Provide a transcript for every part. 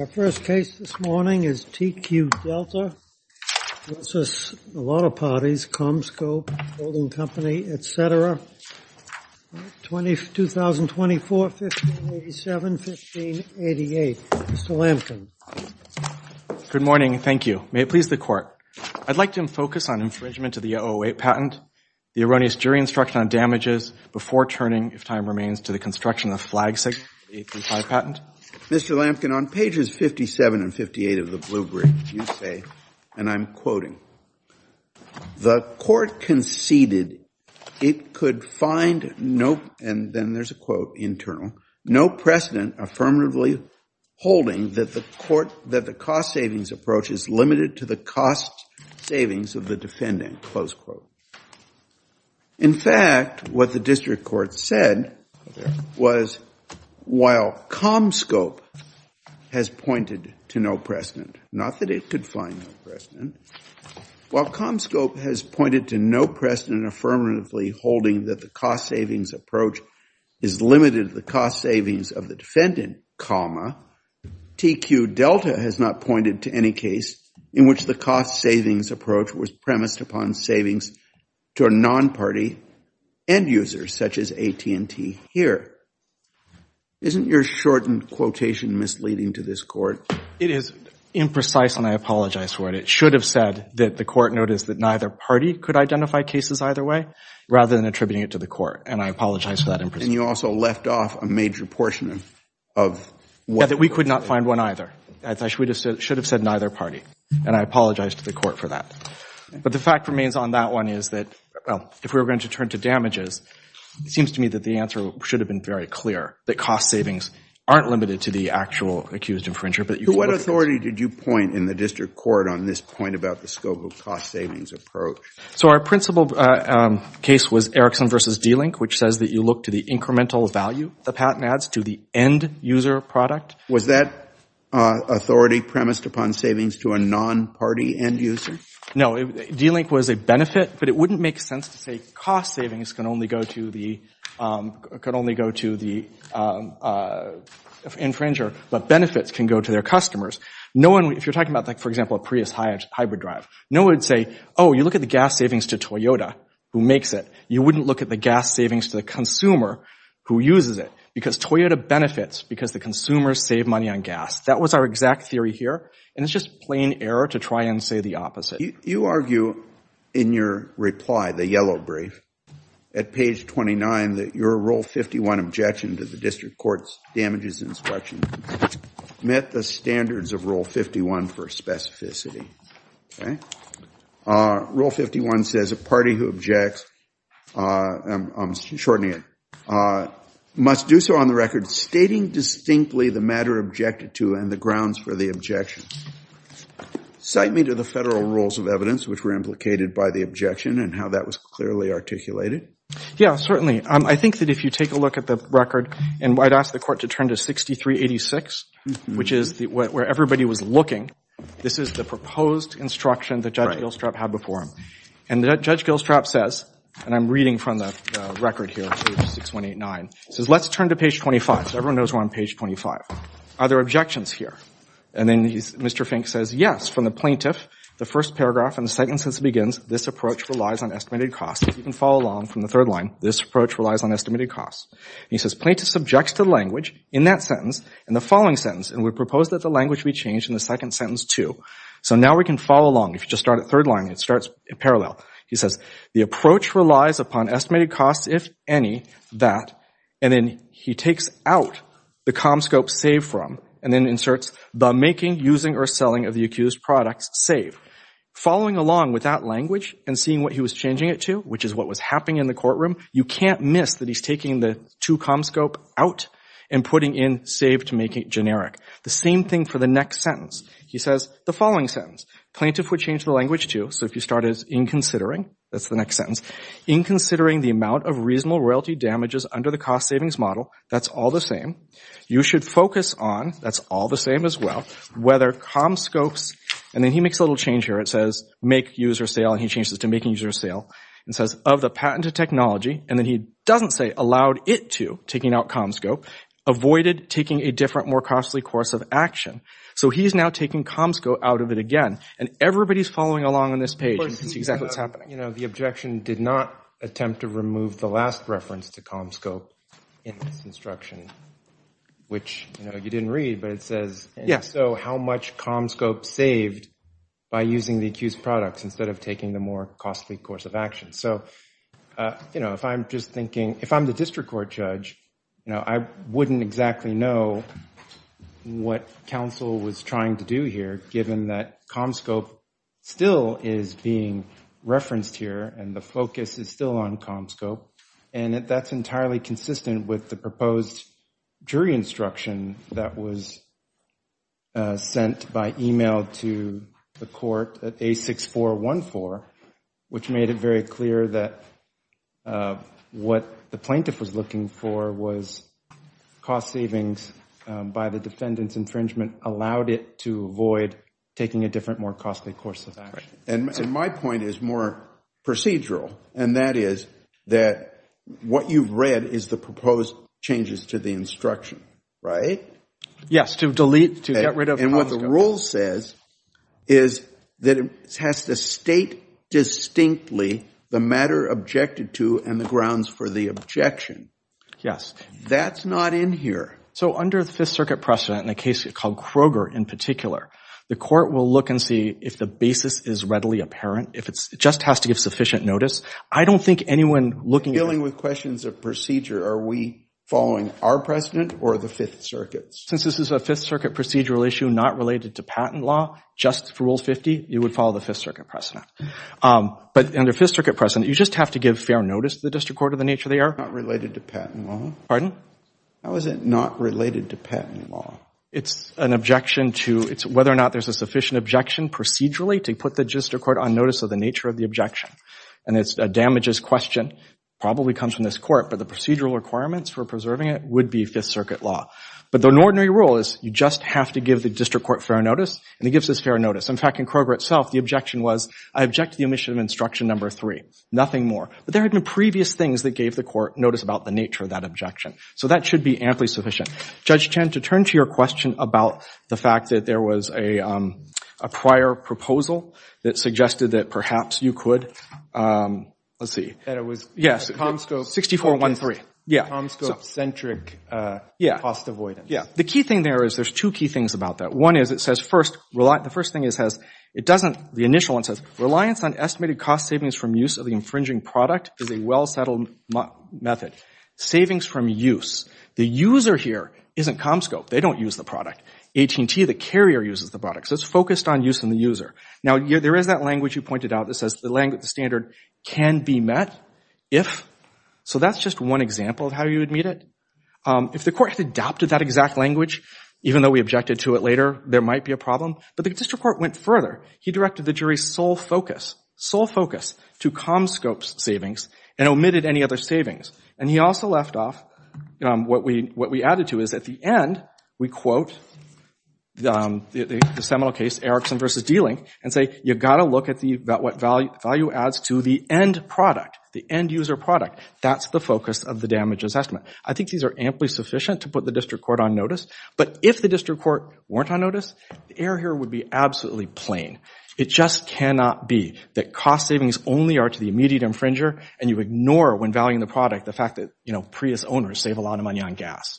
Our first case this morning is TQ Delta versus a lot of parties, CommScope Holding Company, etc. 2024-1587-1588. Mr. Lampkin. Good morning, thank you. May it please the court. I'd like to focus on infringement of the 008 patent, the erroneous jury instruction on damages before turning, if time remains, to the construction of the flag sign of the 008 patent. Mr. Lampkin, on pages 57 and 58 of the blue brief, you say, and I'm quoting, the court conceded it could find no, and then there's a quote internal, no precedent affirmatively holding that the cost savings approach is limited to the cost savings of the defendant, close quote. In fact, what the district court said was, while CommScope has pointed to no precedent, not that it could find no precedent, while CommScope has pointed to no precedent affirmatively holding that the cost savings approach is limited to the cost savings of the defendant, comma, TQ Delta has not pointed to any case in which the cost savings approach was premised upon savings to a non-party end user, such as AT&T here. Isn't your shortened quotation misleading to this court? It is imprecise, and I apologize for it. It should have said that the court noticed that neither party could identify cases either way, rather than attributing it to the court, and I apologize for that imprecision. And you also left off a major portion of... Yeah, that we could not find one either. As I should have said, it should have said neither party, and I apologize to the court for that. But the fact remains on that one is that, well, if we were going to turn to damages, it seems to me that the answer should have been very clear, that cost savings aren't limited to the actual accused infringer, but you... What authority did you point in the district court on this point about the scope of cost savings approach? So our principal case was Erickson versus D-Link, which says that you look to the incremental value the patent adds to the end user product. Was that authority premised upon savings to a non-party end user? No, D-Link was a benefit, but it wouldn't make sense to say cost savings can only go to the infringer, but benefits can go to their customers. No one, if you're talking about like, for example, a Prius hybrid drive, no one would say, oh, you look at the gas savings to Toyota, who makes it. You wouldn't look at the save money on gas. That was our exact theory here. And it's just plain error to try and say the opposite. You argue in your reply, the yellow brief at page 29, that your Rule 51 objection to the district court's damages inspection met the standards of Rule 51 for specificity. Okay. Rule 51 says a party who objects, I'm shortening it, must do so on the record stating distinctly the matter objected to and the grounds for the objection. Cite me to the federal rules of evidence which were implicated by the objection and how that was clearly articulated. Yeah, certainly. I think that if you take a look at the record and I'd ask the court to turn to 6386, which is where everybody was looking, this is the proposed instruction that Judge Gilstrap had before him. And that Judge Gilstrap says, and I'm reading from the record here, page 6189, says, let's turn to page 25. So everyone knows we're on page 25. Are there objections here? And then he's, Mr. Fink says, yes, from the plaintiff, the first paragraph and the second sentence begins, this approach relies on estimated costs. If you can follow along from the third line, this approach relies on estimated costs. He says, plaintiff subjects to language in that sentence and the following sentence, and we propose that the language be changed in the second sentence too. So now we can follow along. If you just start at third line, it starts in parallel. He says, the approach relies upon estimated costs, if any, that, and then he takes out the comscope save from and then inserts the making, using, or selling of the accused products save. Following along with that language and seeing what he was changing it to, which is what was happening in the courtroom, you can't miss that he's taking the two comscope out and putting in save to make it generic. The same thing for the next sentence. He says, the following sentence, plaintiff would change the language too. So if you start as inconsidering, that's the next sentence, inconsidering the amount of reasonable royalty damages under the cost savings model, that's all the same. You should focus on, that's all the same as well, whether comscopes, and then he makes a little change here. It says, make, use, or sale, and he changes it to making, use, or sale, and says, of the patented technology, and then he doesn't say, allowed it to, taking out comscope, avoided taking a different, more costly course of action. So he's now taking comscope out of it again, and everybody's following along on this page. This is exactly what's happening. You know, the objection did not attempt to remove the last reference to comscope in this instruction, which, you know, you didn't read, but it says, so how much comscope saved by using the accused products instead of taking the more costly course of action. So, you know, if I'm just thinking, if I'm the district court judge, you know, I wouldn't exactly know what counsel was trying to do here, given that comscope still is being referenced here, and the focus is still on comscope, and that's entirely consistent with the proposed jury instruction that was sent by email to the court at A6414, which made it very clear that what the plaintiff was looking for was cost savings by the defendant's infringement allowed it to avoid taking a different, more costly course of action. And my point is more procedural, and that is that what you've read is the proposed changes to the instruction, right? Yes, to delete, to get rid of. And what the rule says is that it has to state distinctly the matter objected to and the grounds for the objection. Yes. That's not in here. So under the Fifth Circuit precedent, in a case called Kroger in particular, the court will look and see if the basis is readily apparent, if it just has to give sufficient notice. I don't think anyone looking at... Dealing with questions of procedure, are we following our precedent or the Fifth Circuit's? Since this is a Fifth Circuit procedural issue not related to patent law, just for Rule 50, you would follow the Fifth Circuit precedent. But under Fifth Circuit precedent, you just have to give fair notice to the district court of the nature they are. Not related to patent law? Pardon? How is it not related to patent law? It's an objection to... It's whether or not there's a sufficient objection procedurally to put the district court on notice of the nature of the objection. And it's a damages question, probably comes from this court, but the procedural requirements for preserving it would be Fifth Circuit law. But the ordinary rule is you just have to give the district court fair notice, and it gives us fair notice. In fact, in Kroger itself, the objection was, I object to the omission of instruction number three, nothing more. But there had been previous things that gave the court notice about the nature of that objection. So that should be amply sufficient. Judge Chen, to turn to your question about the fact that there was a prior proposal that suggested that perhaps you could... Let's see. That it was... Yes. Comscope... 64-1-3. Yeah. Comscope-centric cost avoidance. Yeah. The key thing there is there's two key things about that. One is it says first, the first thing it says, it doesn't, the initial one says, reliance on estimated cost savings from use of the infringing product is a well-settled method. Savings from use. The user here isn't Comscope. They don't use the product. AT&T, the carrier, uses the product. So it's focused on use and the user. Now, there is that language you pointed out that says the standard can be met if... So that's just one example of how you would meet it. If the court had adopted that exact language, even though we objected to it later, there might be a problem. But the district court went further. He directed the jury sole focus, sole focus to Comscope's savings and omitted any other savings. And he also left off, what we added to is at the end, we quote the seminal case, Erickson versus D-Link, and say, you've got to look at what value adds to the end product, the end user product. That's the focus of the damages estimate. I think these are amply sufficient to put the district court on notice. But if the district court weren't on notice, the error here would be absolutely plain. It just cannot be that cost savings only are to the immediate infringer, and you ignore, when valuing the product, the fact that Prius owners save a lot of money on gas.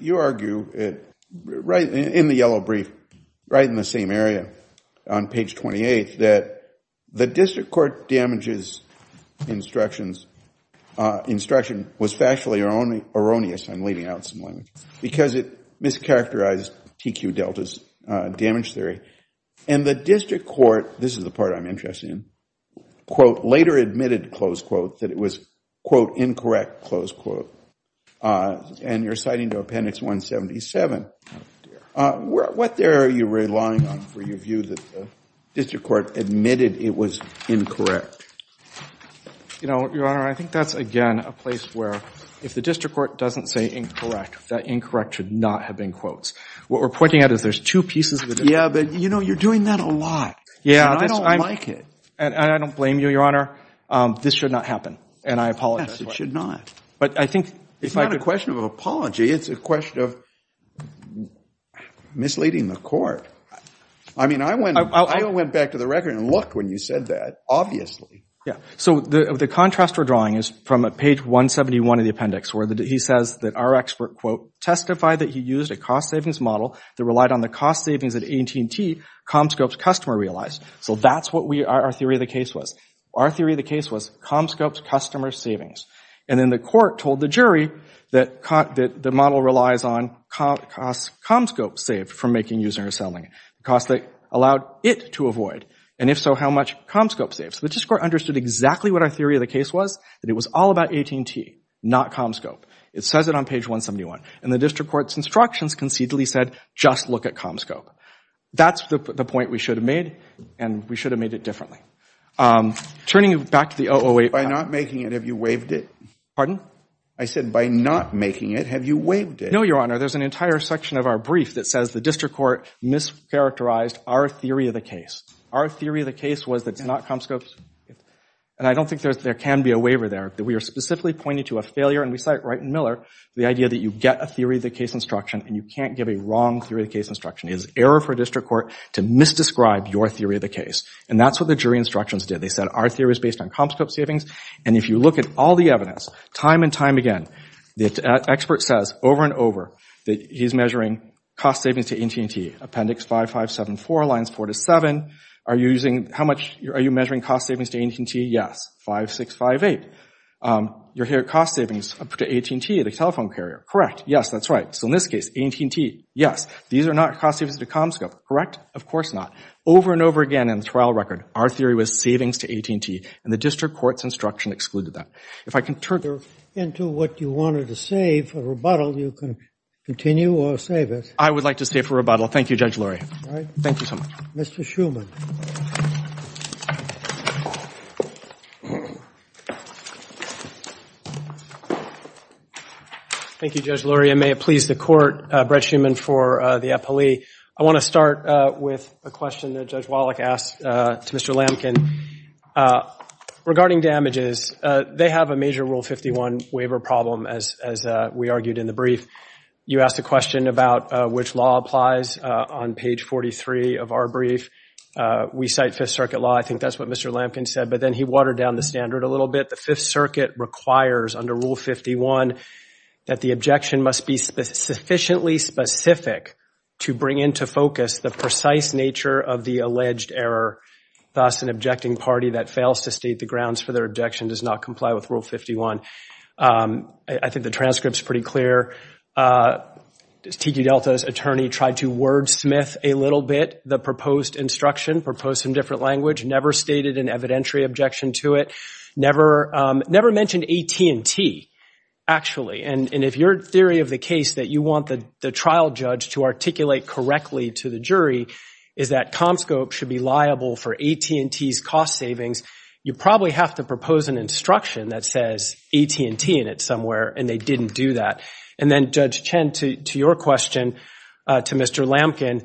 You argue in the yellow brief, right in the same area on page 28, that the district court damages instruction was factually erroneous. I'm leaving out some language. Because it mischaracterized TQ Delta's damage theory. And the district court, this is the part I'm interested in, quote, later admitted, close quote, that it was, quote, incorrect, close quote. And you're citing to appendix 177. What there are you relying on for your view that the district court admitted it was incorrect? You know, Your Honor, I think that's, again, a place where if the district court doesn't say incorrect, that incorrect should not have been quotes. What we're pointing out is there's two pieces of it. Yeah, but you know, you're doing that a lot. Yeah. And I don't like it. And I don't blame you, Your Honor. This should not happen. And I apologize. Yes, it should not. But I think. It's not a question of apology. It's a question of misleading the court. I mean, I went back to the record and looked when you said that, obviously. Yeah. So the contrast we're drawing is from page 171 of the appendix, where he says that our expert, quote, testified that he used a cost savings model that relied on the cost savings at AT&T, Comscope's customer realized. So that's what our theory of the case was. Our theory of the case was Comscope's customer savings. And then the court told the jury that the model relies on Comscope saved from making, using, or selling. The cost they allowed it to avoid. And if so, how much Comscope saves. The district court understood exactly what our theory of the case was, that it was all about AT&T, not Comscope. It says it on page 171. And the district court's instructions concededly said, just look at Comscope. That's the point we should have made. And we should have made it differently. Turning back to the 008. By not making it, have you waived it? Pardon? I said, by not making it, have you waived it? No, Your Honor. There's an entire section of our brief that says the district court mischaracterized our theory of the case. Our theory of the case was that it's not Comscope's. And I don't think there can be a waiver there. We are specifically pointing to a failure, and we cite Wright and Miller, the idea that you get a theory of the case instruction and you can't give a wrong theory of the case instruction. It is error for district court to misdescribe your theory of the case. And that's what the jury instructions did. They said our theory is based on Comscope savings. And if you look at all the evidence, time and time again, the expert says over and over that he's measuring cost savings to AT&T. Appendix 5574, lines 4 to 7. Are you measuring cost savings to AT&T? Yes. 5658. You're here at cost savings to AT&T, the telephone carrier. Correct. Yes, that's right. So in this case, AT&T, yes. These are not cost savings to Comscope. Correct? Of course not. Over and over again in the trial record, our theory was savings to AT&T, and the district court's instruction excluded that. If I can turn into what you wanted to say for rebuttal, you can continue or save it. I would like to stay for rebuttal. Thank you, Judge Lurie. All right. Thank you so much. Mr. Shuman. Thank you, Judge Lurie. I may have pleased the court, Brett Shuman, for the appellee. I want to start with a question that Judge Wallach asked to Mr. Lamkin. Regarding damages, they have a major Rule 51 waiver problem, as we argued in the brief. You asked a question about which law applies on page 43 of our brief. We cite Fifth Circuit law. I think that's what Mr. Lamkin said, but then he watered down the standard a little bit. The Fifth Circuit requires under Rule 51 that the objection must be sufficiently specific to bring into focus the precise nature of the alleged error. Thus, an objecting party that fails to state the grounds for their objection does not comply with Rule 51. I think the transcript's pretty clear. T.Q. Delta's attorney tried to wordsmith a little bit the proposed instruction, proposed some different language, never stated an evidentiary objection to it, never mentioned AT&T, actually. And if your theory of the case that you want the trial judge to articulate correctly to the jury is that Comscope should be liable for AT&T's cost savings, you probably have to propose an instruction that says AT&T in it somewhere, and they didn't do that. And then, Judge Chen, to your question to Mr. Lamkin,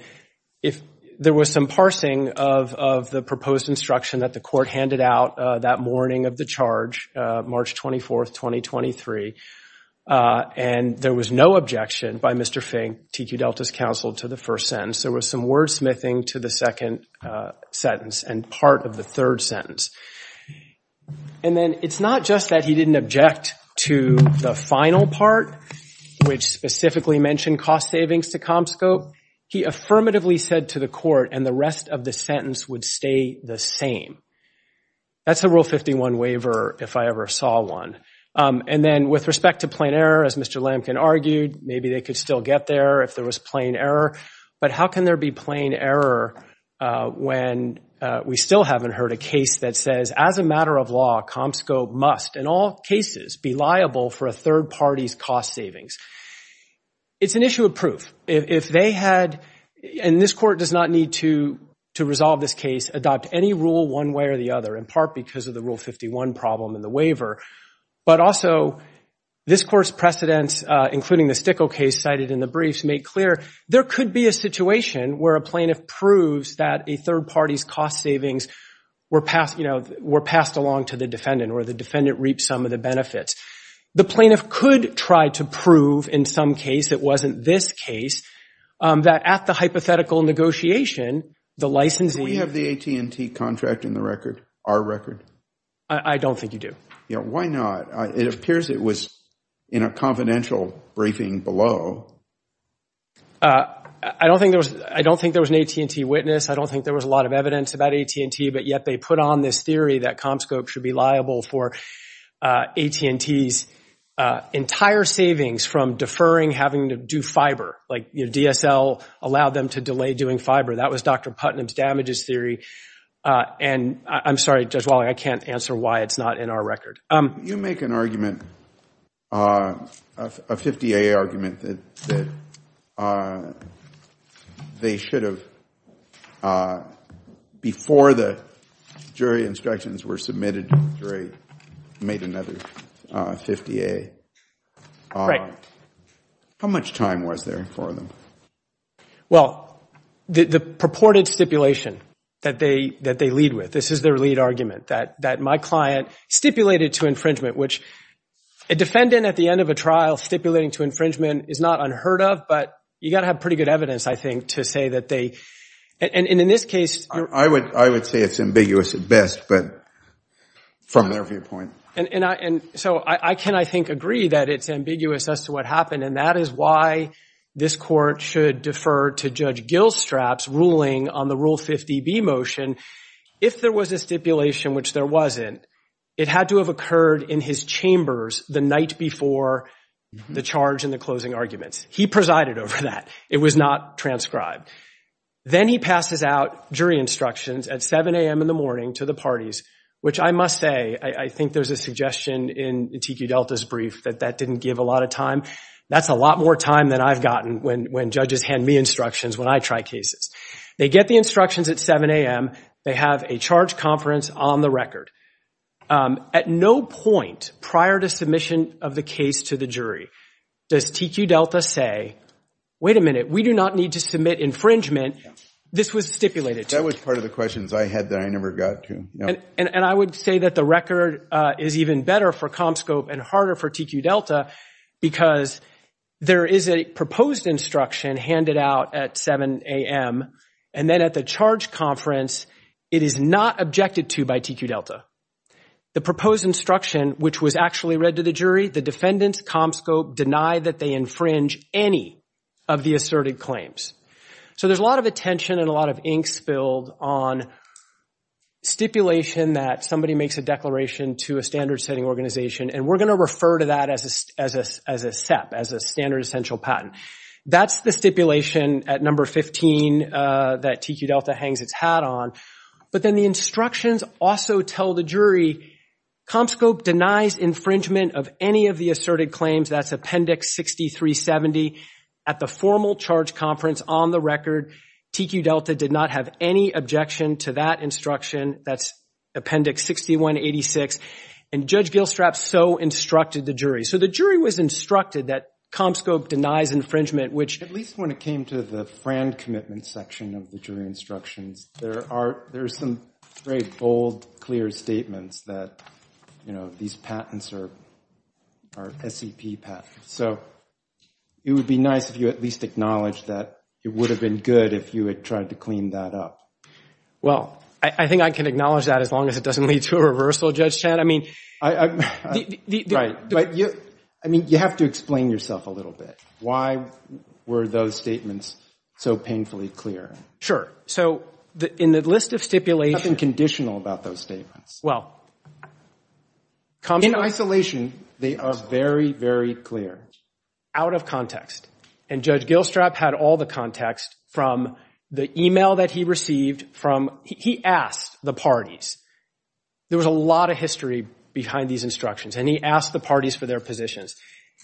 if there was some parsing of the proposed instruction that the court handed out that morning of the charge, March 24, 2023, and there was no objection by Mr. Fink, T.Q. Delta's counsel, to the first sentence, there was some wordsmithing to the second sentence and part of the third sentence. And then, it's not just that he didn't object to the final part, which specifically mentioned cost savings to Comscope. He affirmatively said to the court, and the rest of the sentence would stay the same. That's a Rule 51 waiver, if I ever saw one. And then, with respect to plain error, as Mr. Lamkin argued, maybe they could still get there if there was plain error. But how can there be plain error when we still haven't heard a case that says, as a matter of law, Comscope must, in all cases, be liable for a third party's cost savings? It's an issue of proof. If they had, and this court does not need to resolve this case, adopt any rule one way or the other, in part because of the Rule 51 problem in the waiver. But also, this court's precedents, including the Stickel case cited in the briefs, make clear there could be a situation where a plaintiff proves that a third party's cost savings were passed along to the defendant, or the defendant reaped some of the benefits. The plaintiff could try to prove, in some case, it wasn't this case, that at the hypothetical negotiation, the licensing... Do we have the AT&T contract in the record, our record? I don't think you do. Why not? It appears it was in a confidential briefing below. I don't think there was an AT&T witness. I don't think there was a lot of evidence about AT&T, but yet they put on this theory that Comscope should be liable for AT&T's entire savings from deferring having to do fiber. DSL allowed them to delay doing fiber. That was Dr. Putnam's answer. I can't answer why it's not in our record. You make an argument, a 50-A argument, that they should have, before the jury instructions were submitted to the jury, made another 50-A. How much time was there for them? Well, the purported stipulation that they lead with. This is their lead argument, that my client stipulated to infringement, which a defendant, at the end of a trial, stipulating to infringement is not unheard of, but you got to have pretty good evidence, I think, to say that they... And in this case... I would say it's ambiguous at best, but from their viewpoint... So I can, I think, agree that it's ambiguous as to what happened, and that is why this court should defer to Judge Gilstrap's ruling on the Rule 50B motion. If there was a stipulation, which there wasn't, it had to have occurred in his chambers the night before the charge and the closing arguments. He presided over that. It was not transcribed. Then he passes out jury instructions at 7 a.m. in the morning to the parties, which I must say, I think there's a suggestion in Antiqui Delta's brief that that didn't give a lot of time. That's a lot more time than I've gotten when judges hand me instructions when I try cases. They get the instructions at 7 a.m. They have a charge conference on the record. At no point prior to submission of the case to the jury does TQ Delta say, wait a minute, we do not need to submit infringement. This was stipulated to. That was part of the questions I had that I never got to. I would say that the record is even better for Comscope and harder for TQ Delta, because there is a proposed instruction handed out at 7 a.m., and then at the charge conference, it is not objected to by TQ Delta. The proposed instruction, which was actually read to the jury, the defendants, Comscope, deny that they infringe any of the asserted claims. So there's a lot of attention and a lot of ink spilled on stipulation that somebody makes a declaration to a standard-setting organization, and we're going to refer to that as a SEP, as a standard essential patent. That's the stipulation at number 15 that TQ Delta hangs its hat on. But then the instructions also tell the jury, Comscope denies infringement of any of the asserted claims. That's Appendix 6370. At the formal charge conference on the record, TQ Delta did not have any objection to that instruction. That's Appendix 6186. And Judge Gilstrap so instructed the jury. So the jury was instructed that Comscope denies infringement, which at least when it came to the FRAND commitment section of the jury instructions, there are some very bold, clear statements that these patents are SEP patents. So it would be nice if you at least acknowledged that it would have been good if you had tried to clean that up. Well, I think I can acknowledge that as long as it doesn't lead to a reversal, Judge Chant. I mean, you have to explain yourself a little bit. Why were those statements so painfully clear? Sure. So in the list of stipulations— Nothing conditional about those statements. Well, Comscope— In isolation, they are very, very clear. Out of context. And Judge Gilstrap had all the context from the email that he received from—he asked the parties. There was a lot of history behind these instructions, and he asked the parties for their positions.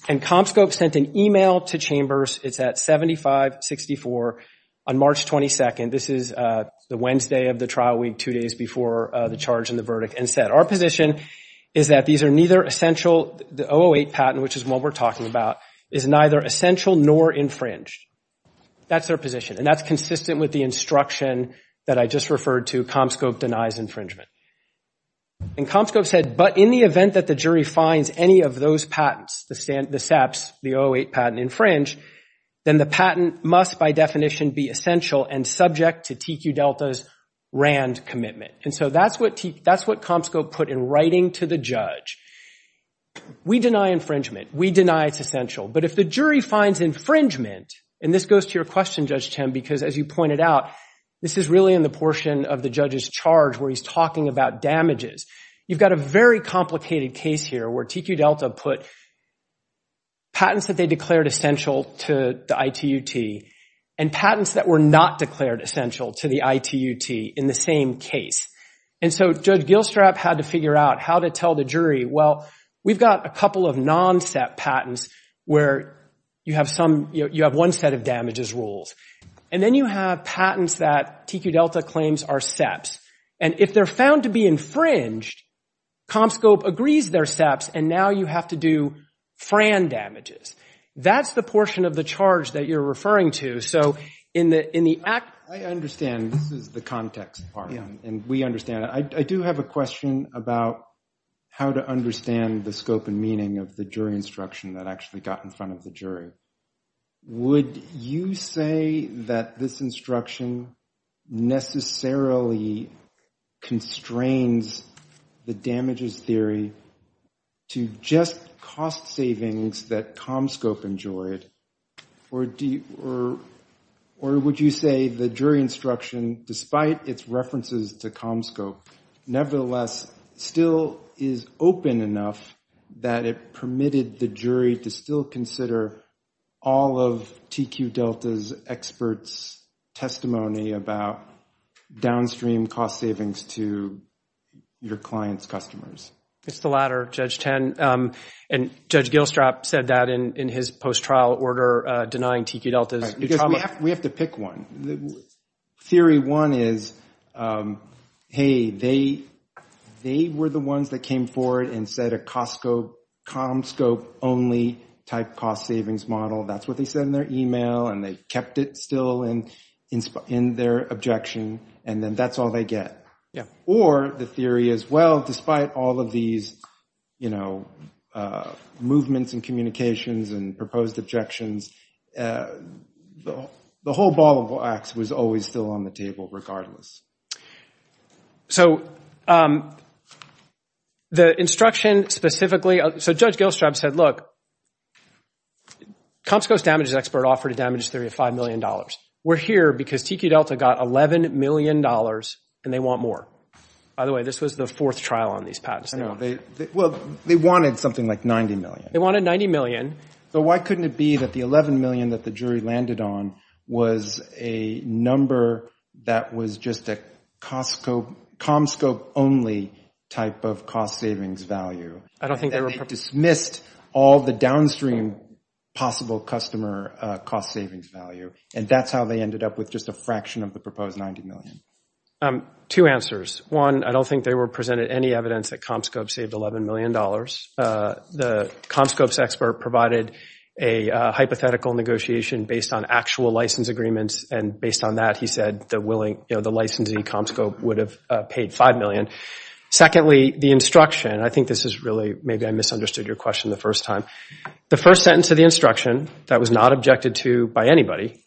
And Comscope sent an email to Chambers. It's at 7564 on March 22nd. This is the Wednesday of the trial week, two days before the charge and the verdict, and said, our position is that these are neither essential—the 008 patent, which is what we're talking about, is neither essential nor infringed. That's their position. And that's consistent with the instruction that I just referred to, Comscope denies infringement. And Comscope said, but in the event that the jury finds any of those patents, the SEPs, the 008 patent infringe, then the patent must, by definition, be essential and subject to TQ Delta's RAND commitment. And so that's what Comscope put in writing to the judge. We deny infringement. We deny it's essential. But if the jury finds infringement—and this goes to your question, Judge Tim, because as you pointed out, this is really in the portion of the judge's charge where he's talking about damages. You've got a very complicated case here where TQ Delta put patents that they declared essential to the ITUT and patents that were not declared essential to the ITUT in the same case. And so Judge Gilstrap had to figure out how to tell the jury, well, we've got a couple of non-SEP patents where you have one set of damages rules. And then you have patents that TQ Delta claims are SEPs. And if they're found to be infringed, Comscope agrees they're SEPs. And now you have to do FRAN damages. That's the portion of the charge that you're referring to. So in the act— I understand. This is the context part, and we understand it. I do have a question about how to understand the scope and meaning of the jury instruction that actually got in front of the jury. Would you say that this instruction necessarily constrains the damages theory to just cost savings that Comscope enjoyed? Or would you say the jury instruction, despite its references to Comscope, nevertheless still is open enough that it permitted the jury to still consider all of TQ Delta's experts' testimony about downstream cost savings to your client's customers? It's the latter, Judge Ten. And Judge Gilstrap said that in his post-trial order, denying TQ Delta's trauma. We have to pick one. Theory one is, hey, they were the ones that came forward and said a Comscope-only type cost savings model. That's what they said in their email, and they kept it still in their objection, and then that's all they get. Or the theory is, well, despite all of these, you know, movements and communications and proposed objections, the whole ball of wax was always still on the table regardless. So the instruction specifically— so Judge Gilstrap said, look, Comscope's damages expert offered a damages theory of $5 million. We're here because TQ Delta got $11 million, and they want more. By the way, this was the fourth trial on these patents. Well, they wanted something like $90 million. They wanted $90 million. So why couldn't it be that the $11 million that the jury landed on was a number that was just a Comscope-only type of cost savings value? I don't think they were— all the downstream possible customer cost savings value, and that's how they ended up with just a fraction of the proposed $90 million. Two answers. One, I don't think they presented any evidence that Comscope saved $11 million. The Comscope's expert provided a hypothetical negotiation based on actual license agreements, and based on that, he said the licensee, Comscope, would have paid $5 million. Secondly, the instruction—I think this is really—maybe I misunderstood your question the first time. The first sentence of the instruction that was not objected to by anybody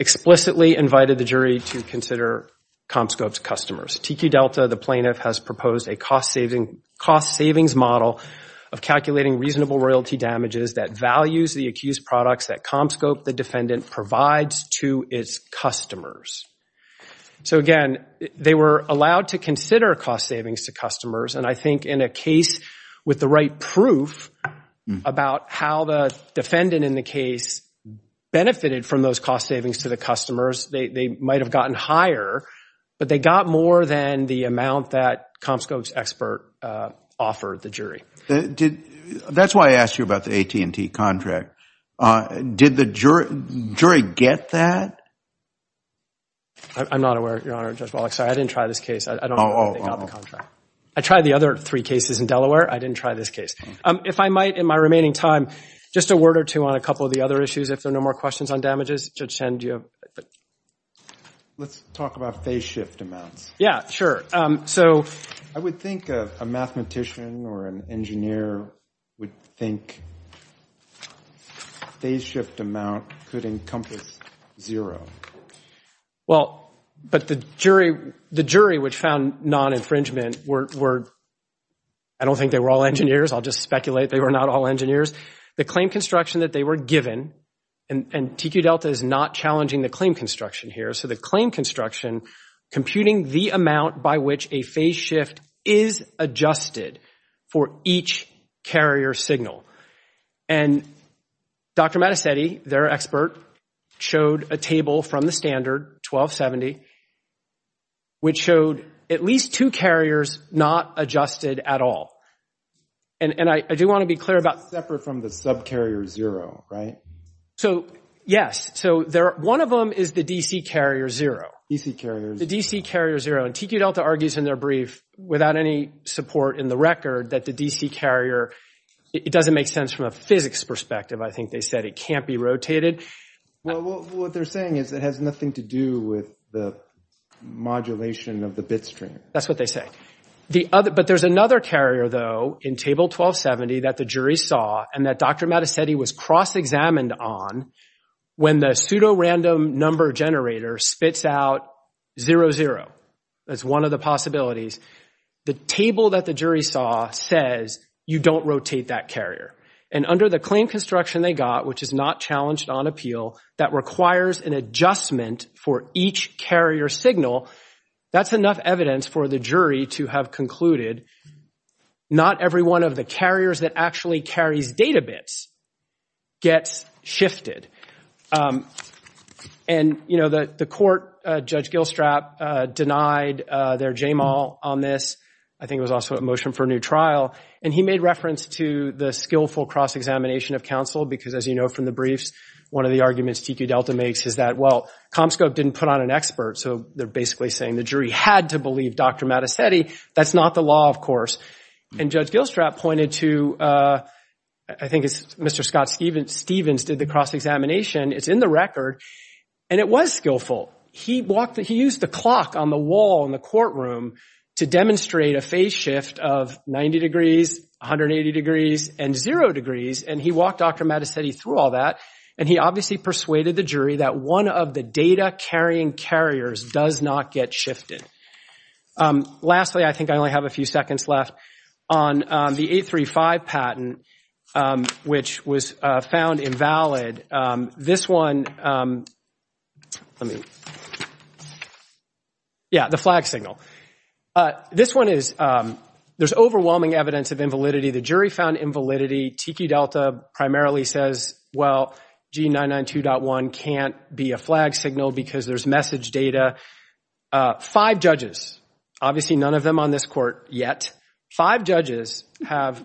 explicitly invited the jury to consider Comscope's customers. TQ Delta, the plaintiff, has proposed a cost savings model of calculating reasonable royalty damages that values the accused products that Comscope, the defendant, provides to its customers. So again, they were allowed to consider cost savings to customers, and I think in a case with the right proof about how the defendant in the case benefited from those cost savings to the customers, they might have gotten higher, but they got more than the amount that Comscope's expert offered the jury. That's why I asked you about the AT&T contract. Did the jury get that? I'm not aware, Your Honor, Judge Wallach. Sorry, I didn't try this case. I don't know whether they got the contract. I tried the other three cases in Delaware. I didn't try this case. If I might, in my remaining time, just a word or two on a couple of the other issues, if there are no more questions on damages. Judge Chen, do you have— Let's talk about phase shift amounts. Yeah, sure. So— I would think a mathematician or an engineer would think phase shift amount could encompass zero. Well, but the jury which found non-infringement were—I don't think they were all engineers. I'll just speculate. They were not all engineers. The claim construction that they were given, and TQ-Delta is not challenging the claim construction here. So the claim construction, computing the amount by which a phase shift is adjusted for each carrier signal. And Dr. Mattacetti, their expert, showed a table from the standard, 1270, which showed at least two carriers not adjusted at all. And I do want to be clear about— Separate from the subcarrier zero, right? So, yes. So one of them is the DC carrier zero. DC carrier zero. The DC carrier zero. And TQ-Delta argues in their brief, without any support in the record, that the DC carrier—it doesn't make sense from a physics perspective. I think they said it can't be rotated. Well, what they're saying is it has nothing to do with the modulation of the bit string. That's what they say. But there's another carrier, though, in table 1270 that the jury saw and that Dr. Mattacetti was cross-examined on when the pseudo-random number generator spits out 00. That's one of the possibilities. The table that the jury saw says you don't rotate that carrier. And under the claim construction they got, which is not challenged on appeal, that requires an adjustment for each carrier signal, that's enough evidence for the jury to have concluded not every one of the carriers that actually carries data bits gets shifted. And, you know, the court, Judge Gilstrap, denied their J-Mal on this. I think it was also a motion for a new trial. And he made reference to the skillful cross-examination of counsel because, as you know from the briefs, one of the arguments TQ-Delta makes is that, well, Comscope didn't put on an expert. So they're basically saying the jury had to believe Dr. Mattacetti. That's not the law, of course. And Judge Gilstrap pointed to, I think it's Mr. Scott Stevens, did the cross-examination. It's in the record. And it was skillful. He used the clock on the wall in the courtroom to demonstrate a phase shift of 90 degrees, 180 degrees, and zero degrees. And he walked Dr. Mattacetti through all that. And he obviously persuaded the jury that one of the data-carrying carriers does not get shifted. Lastly, I think I only have a few seconds left on the 835 patent, which was found invalid. This one, let me, yeah, the flag signal. This one is, there's overwhelming evidence of invalidity. The jury found invalidity. TQ-Delta primarily says, well, G992.1 can't be a flag signal because there's message data. Five judges, obviously none of them on this court yet, five judges have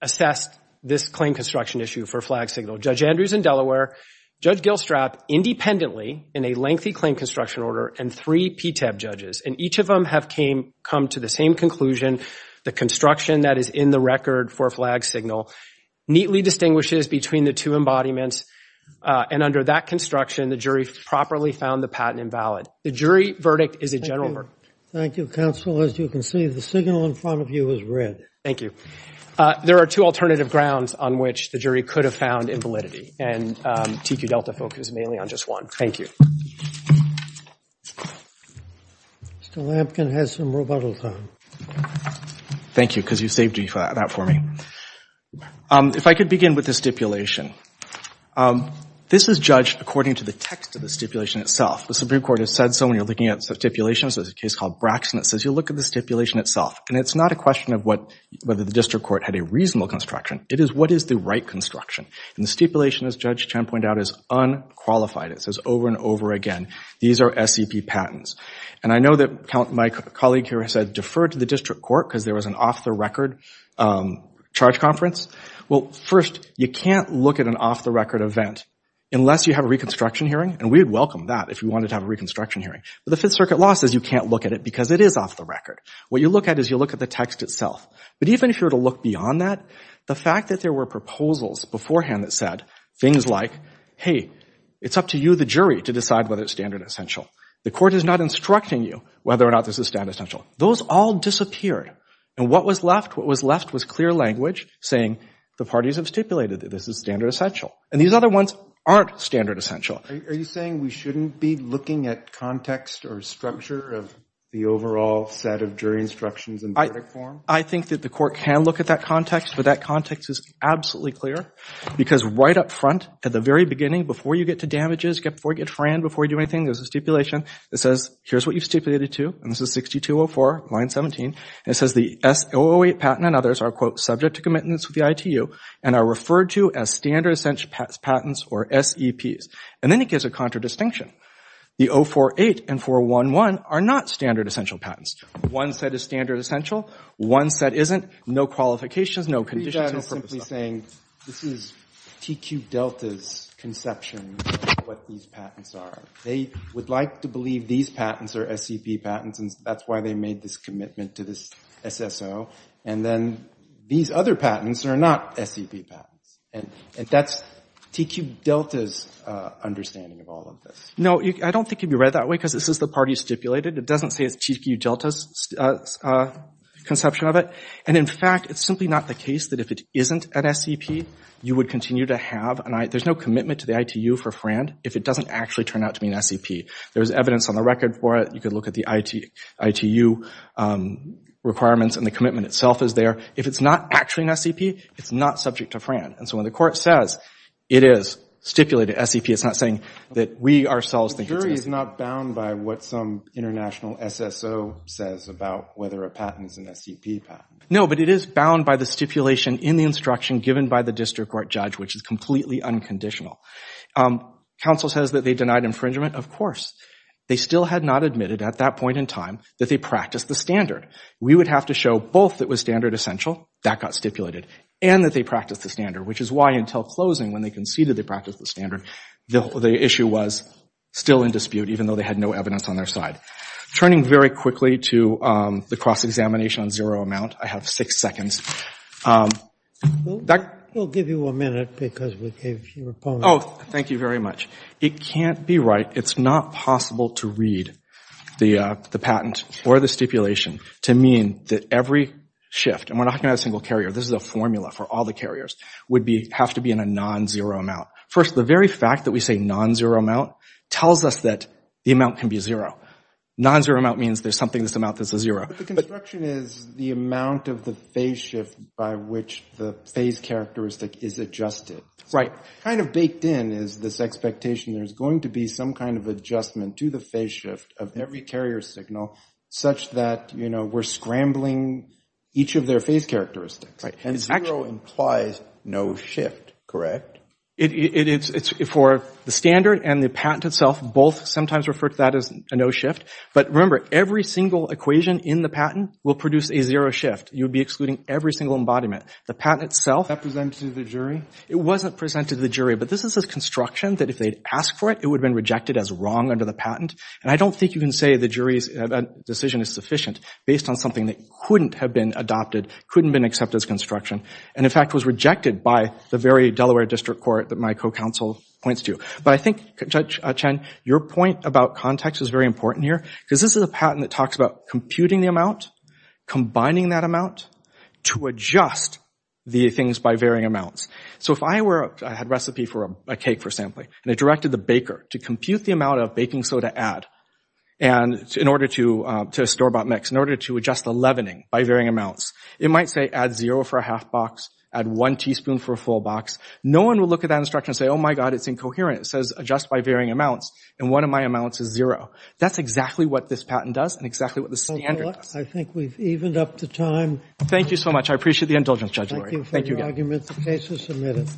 assessed this claim construction issue for flag signal. Judge Andrews in Delaware, Judge Gilstrap independently in a lengthy claim construction order, and three PTEB judges. And each of them have come to the same conclusion. The construction that is in the record for flag signal neatly distinguishes between the two embodiments. And under that construction, the jury properly found the patent invalid. The jury verdict is a general verdict. Thank you, counsel. As you can see, the signal in front of you is red. Thank you. There are two alternative grounds on which the jury could have found invalidity. And TQ-Delta focuses mainly on just one. Thank you. Mr. Lampkin has some rebuttal time. Thank you, because you saved that for me. If I could begin with the stipulation. This is judged according to the text of the stipulation itself. The Supreme Court has said so when you're looking at stipulations. There's a case called Braxton that says, you look at the stipulation itself. And it's not a question of whether the district court had a reasonable construction. It is, what is the right construction? And the stipulation, as Judge Chen pointed out, is unqualified. It says over and over again, these are SCP patents. And I know that my colleague here has said, defer to the district court, because there was an off-the-record charge conference. Well, first, you can't look at an off-the-record event unless you have a reconstruction hearing. And we'd welcome that if we wanted to have a reconstruction hearing. But the Fifth Circuit law says you can't look at it because it is off-the-record. What you look at is you look at the text itself. But even if you were to look beyond that, the fact that there were proposals beforehand that said things like, hey, it's up to you, the jury, to decide whether it's standard essential. The court is not instructing you whether or not this is standard essential. Those all disappeared. And what was left? What was left was clear language saying, the parties have stipulated that this is standard essential. And these other ones aren't standard essential. Are you saying we shouldn't be looking at context or structure of the overall set of jury instructions in verdict form? I think that the court can look at that context. But that context is absolutely clear. Because right up front, at the very beginning, before you get to damages, before you get friend, before you do anything, there's a stipulation that says, here's what you've stipulated to. And this is 6204, line 17. It says the S-008 patent and others are, quote, subject to commitments with the ITU and are referred to as standard essential patents, or SEPs. And then it gives a contradistinction. The 048 and 411 are not standard essential patents. One set is standard essential. One set isn't. No qualifications. No conditions. That is simply saying, this is TQ Delta's conception of what these patents are. They would like to believe these patents are SEP patents. And that's why they made this commitment to this SSO. And then these other patents are not SEP patents. And that's TQ Delta's understanding of all of this. No, I don't think it would be read that way, because this is the part you stipulated. It doesn't say it's TQ Delta's conception of it. And in fact, it's simply not the case that if it isn't an SEP, you would continue to have an ITU. There's no commitment to the ITU for FRAND if it doesn't actually turn out to be an SEP. There's evidence on the record for it. You could look at the ITU requirements and the commitment itself is there. If it's not actually an SEP, it's not subject to FRAND. And so when the court says it is stipulated SEP, it's not saying that we ourselves think it's SEP. The jury is not bound by what some international SSO says about whether a patent is an SEP patent. No, but it is bound by the stipulation in the instruction given by the district court judge, which is completely unconditional. Counsel says that they denied infringement. Of course. They still had not admitted at that point in time that they practiced the standard. We would have to show both that was standard essential, that got stipulated, and that they practiced the standard, which is why until closing, when they conceded they practiced the standard, the issue was still in dispute even though they had no evidence on their side. Turning very quickly to the cross-examination on zero amount. I have six seconds. We'll give you a minute because we gave your opponent. Oh, thank you very much. It can't be right. It's not possible to read the patent or the stipulation to mean that every shift, and we're not going to have a single carrier. This is a formula for all the carriers, would have to be in a non-zero amount. First, the very fact that we say non-zero amount tells us that the amount can be zero. Non-zero amount means there's something this amount that's a zero. But the construction is the amount of the phase shift by which the phase characteristic is adjusted. Kind of baked in is this expectation there's going to be some kind of adjustment to the phase shift of every carrier signal such that we're scrambling each of their phase characteristics. Zero implies no shift, correct? For the standard and the patent itself, both sometimes refer to that as a no shift. But remember, every single equation in the patent will produce a zero shift. You would be excluding every single embodiment. The patent itself— That presented to the jury? It wasn't presented to the jury. But this is a construction that if they'd asked for it, it would have been rejected as wrong under the patent. And I don't think you can say the jury's decision is sufficient based on something that couldn't have been adopted, couldn't have been accepted as construction, and in fact was rejected by the very Delaware District Court that my co-counsel points to. But I think, Judge Chen, your point about context is very important here because this is a patent that talks about computing the amount, combining that amount to adjust the things by varying amounts. So if I had a recipe for a cake for sampling, and I directed the baker to compute the amount of baking soda add and in order to store about mix, in order to adjust the leavening by varying amounts, it might say add zero for a half box, add one teaspoon for a full box. No one will look at that instruction and say, oh my God, it's incoherent. It says adjust by varying amounts, and one of my amounts is zero. That's exactly what this patent does and exactly what the standard does. I think we've evened up the time. Thank you so much. I appreciate the indulgence, Judge Lurie. Thank you for your arguments. The case is submitted.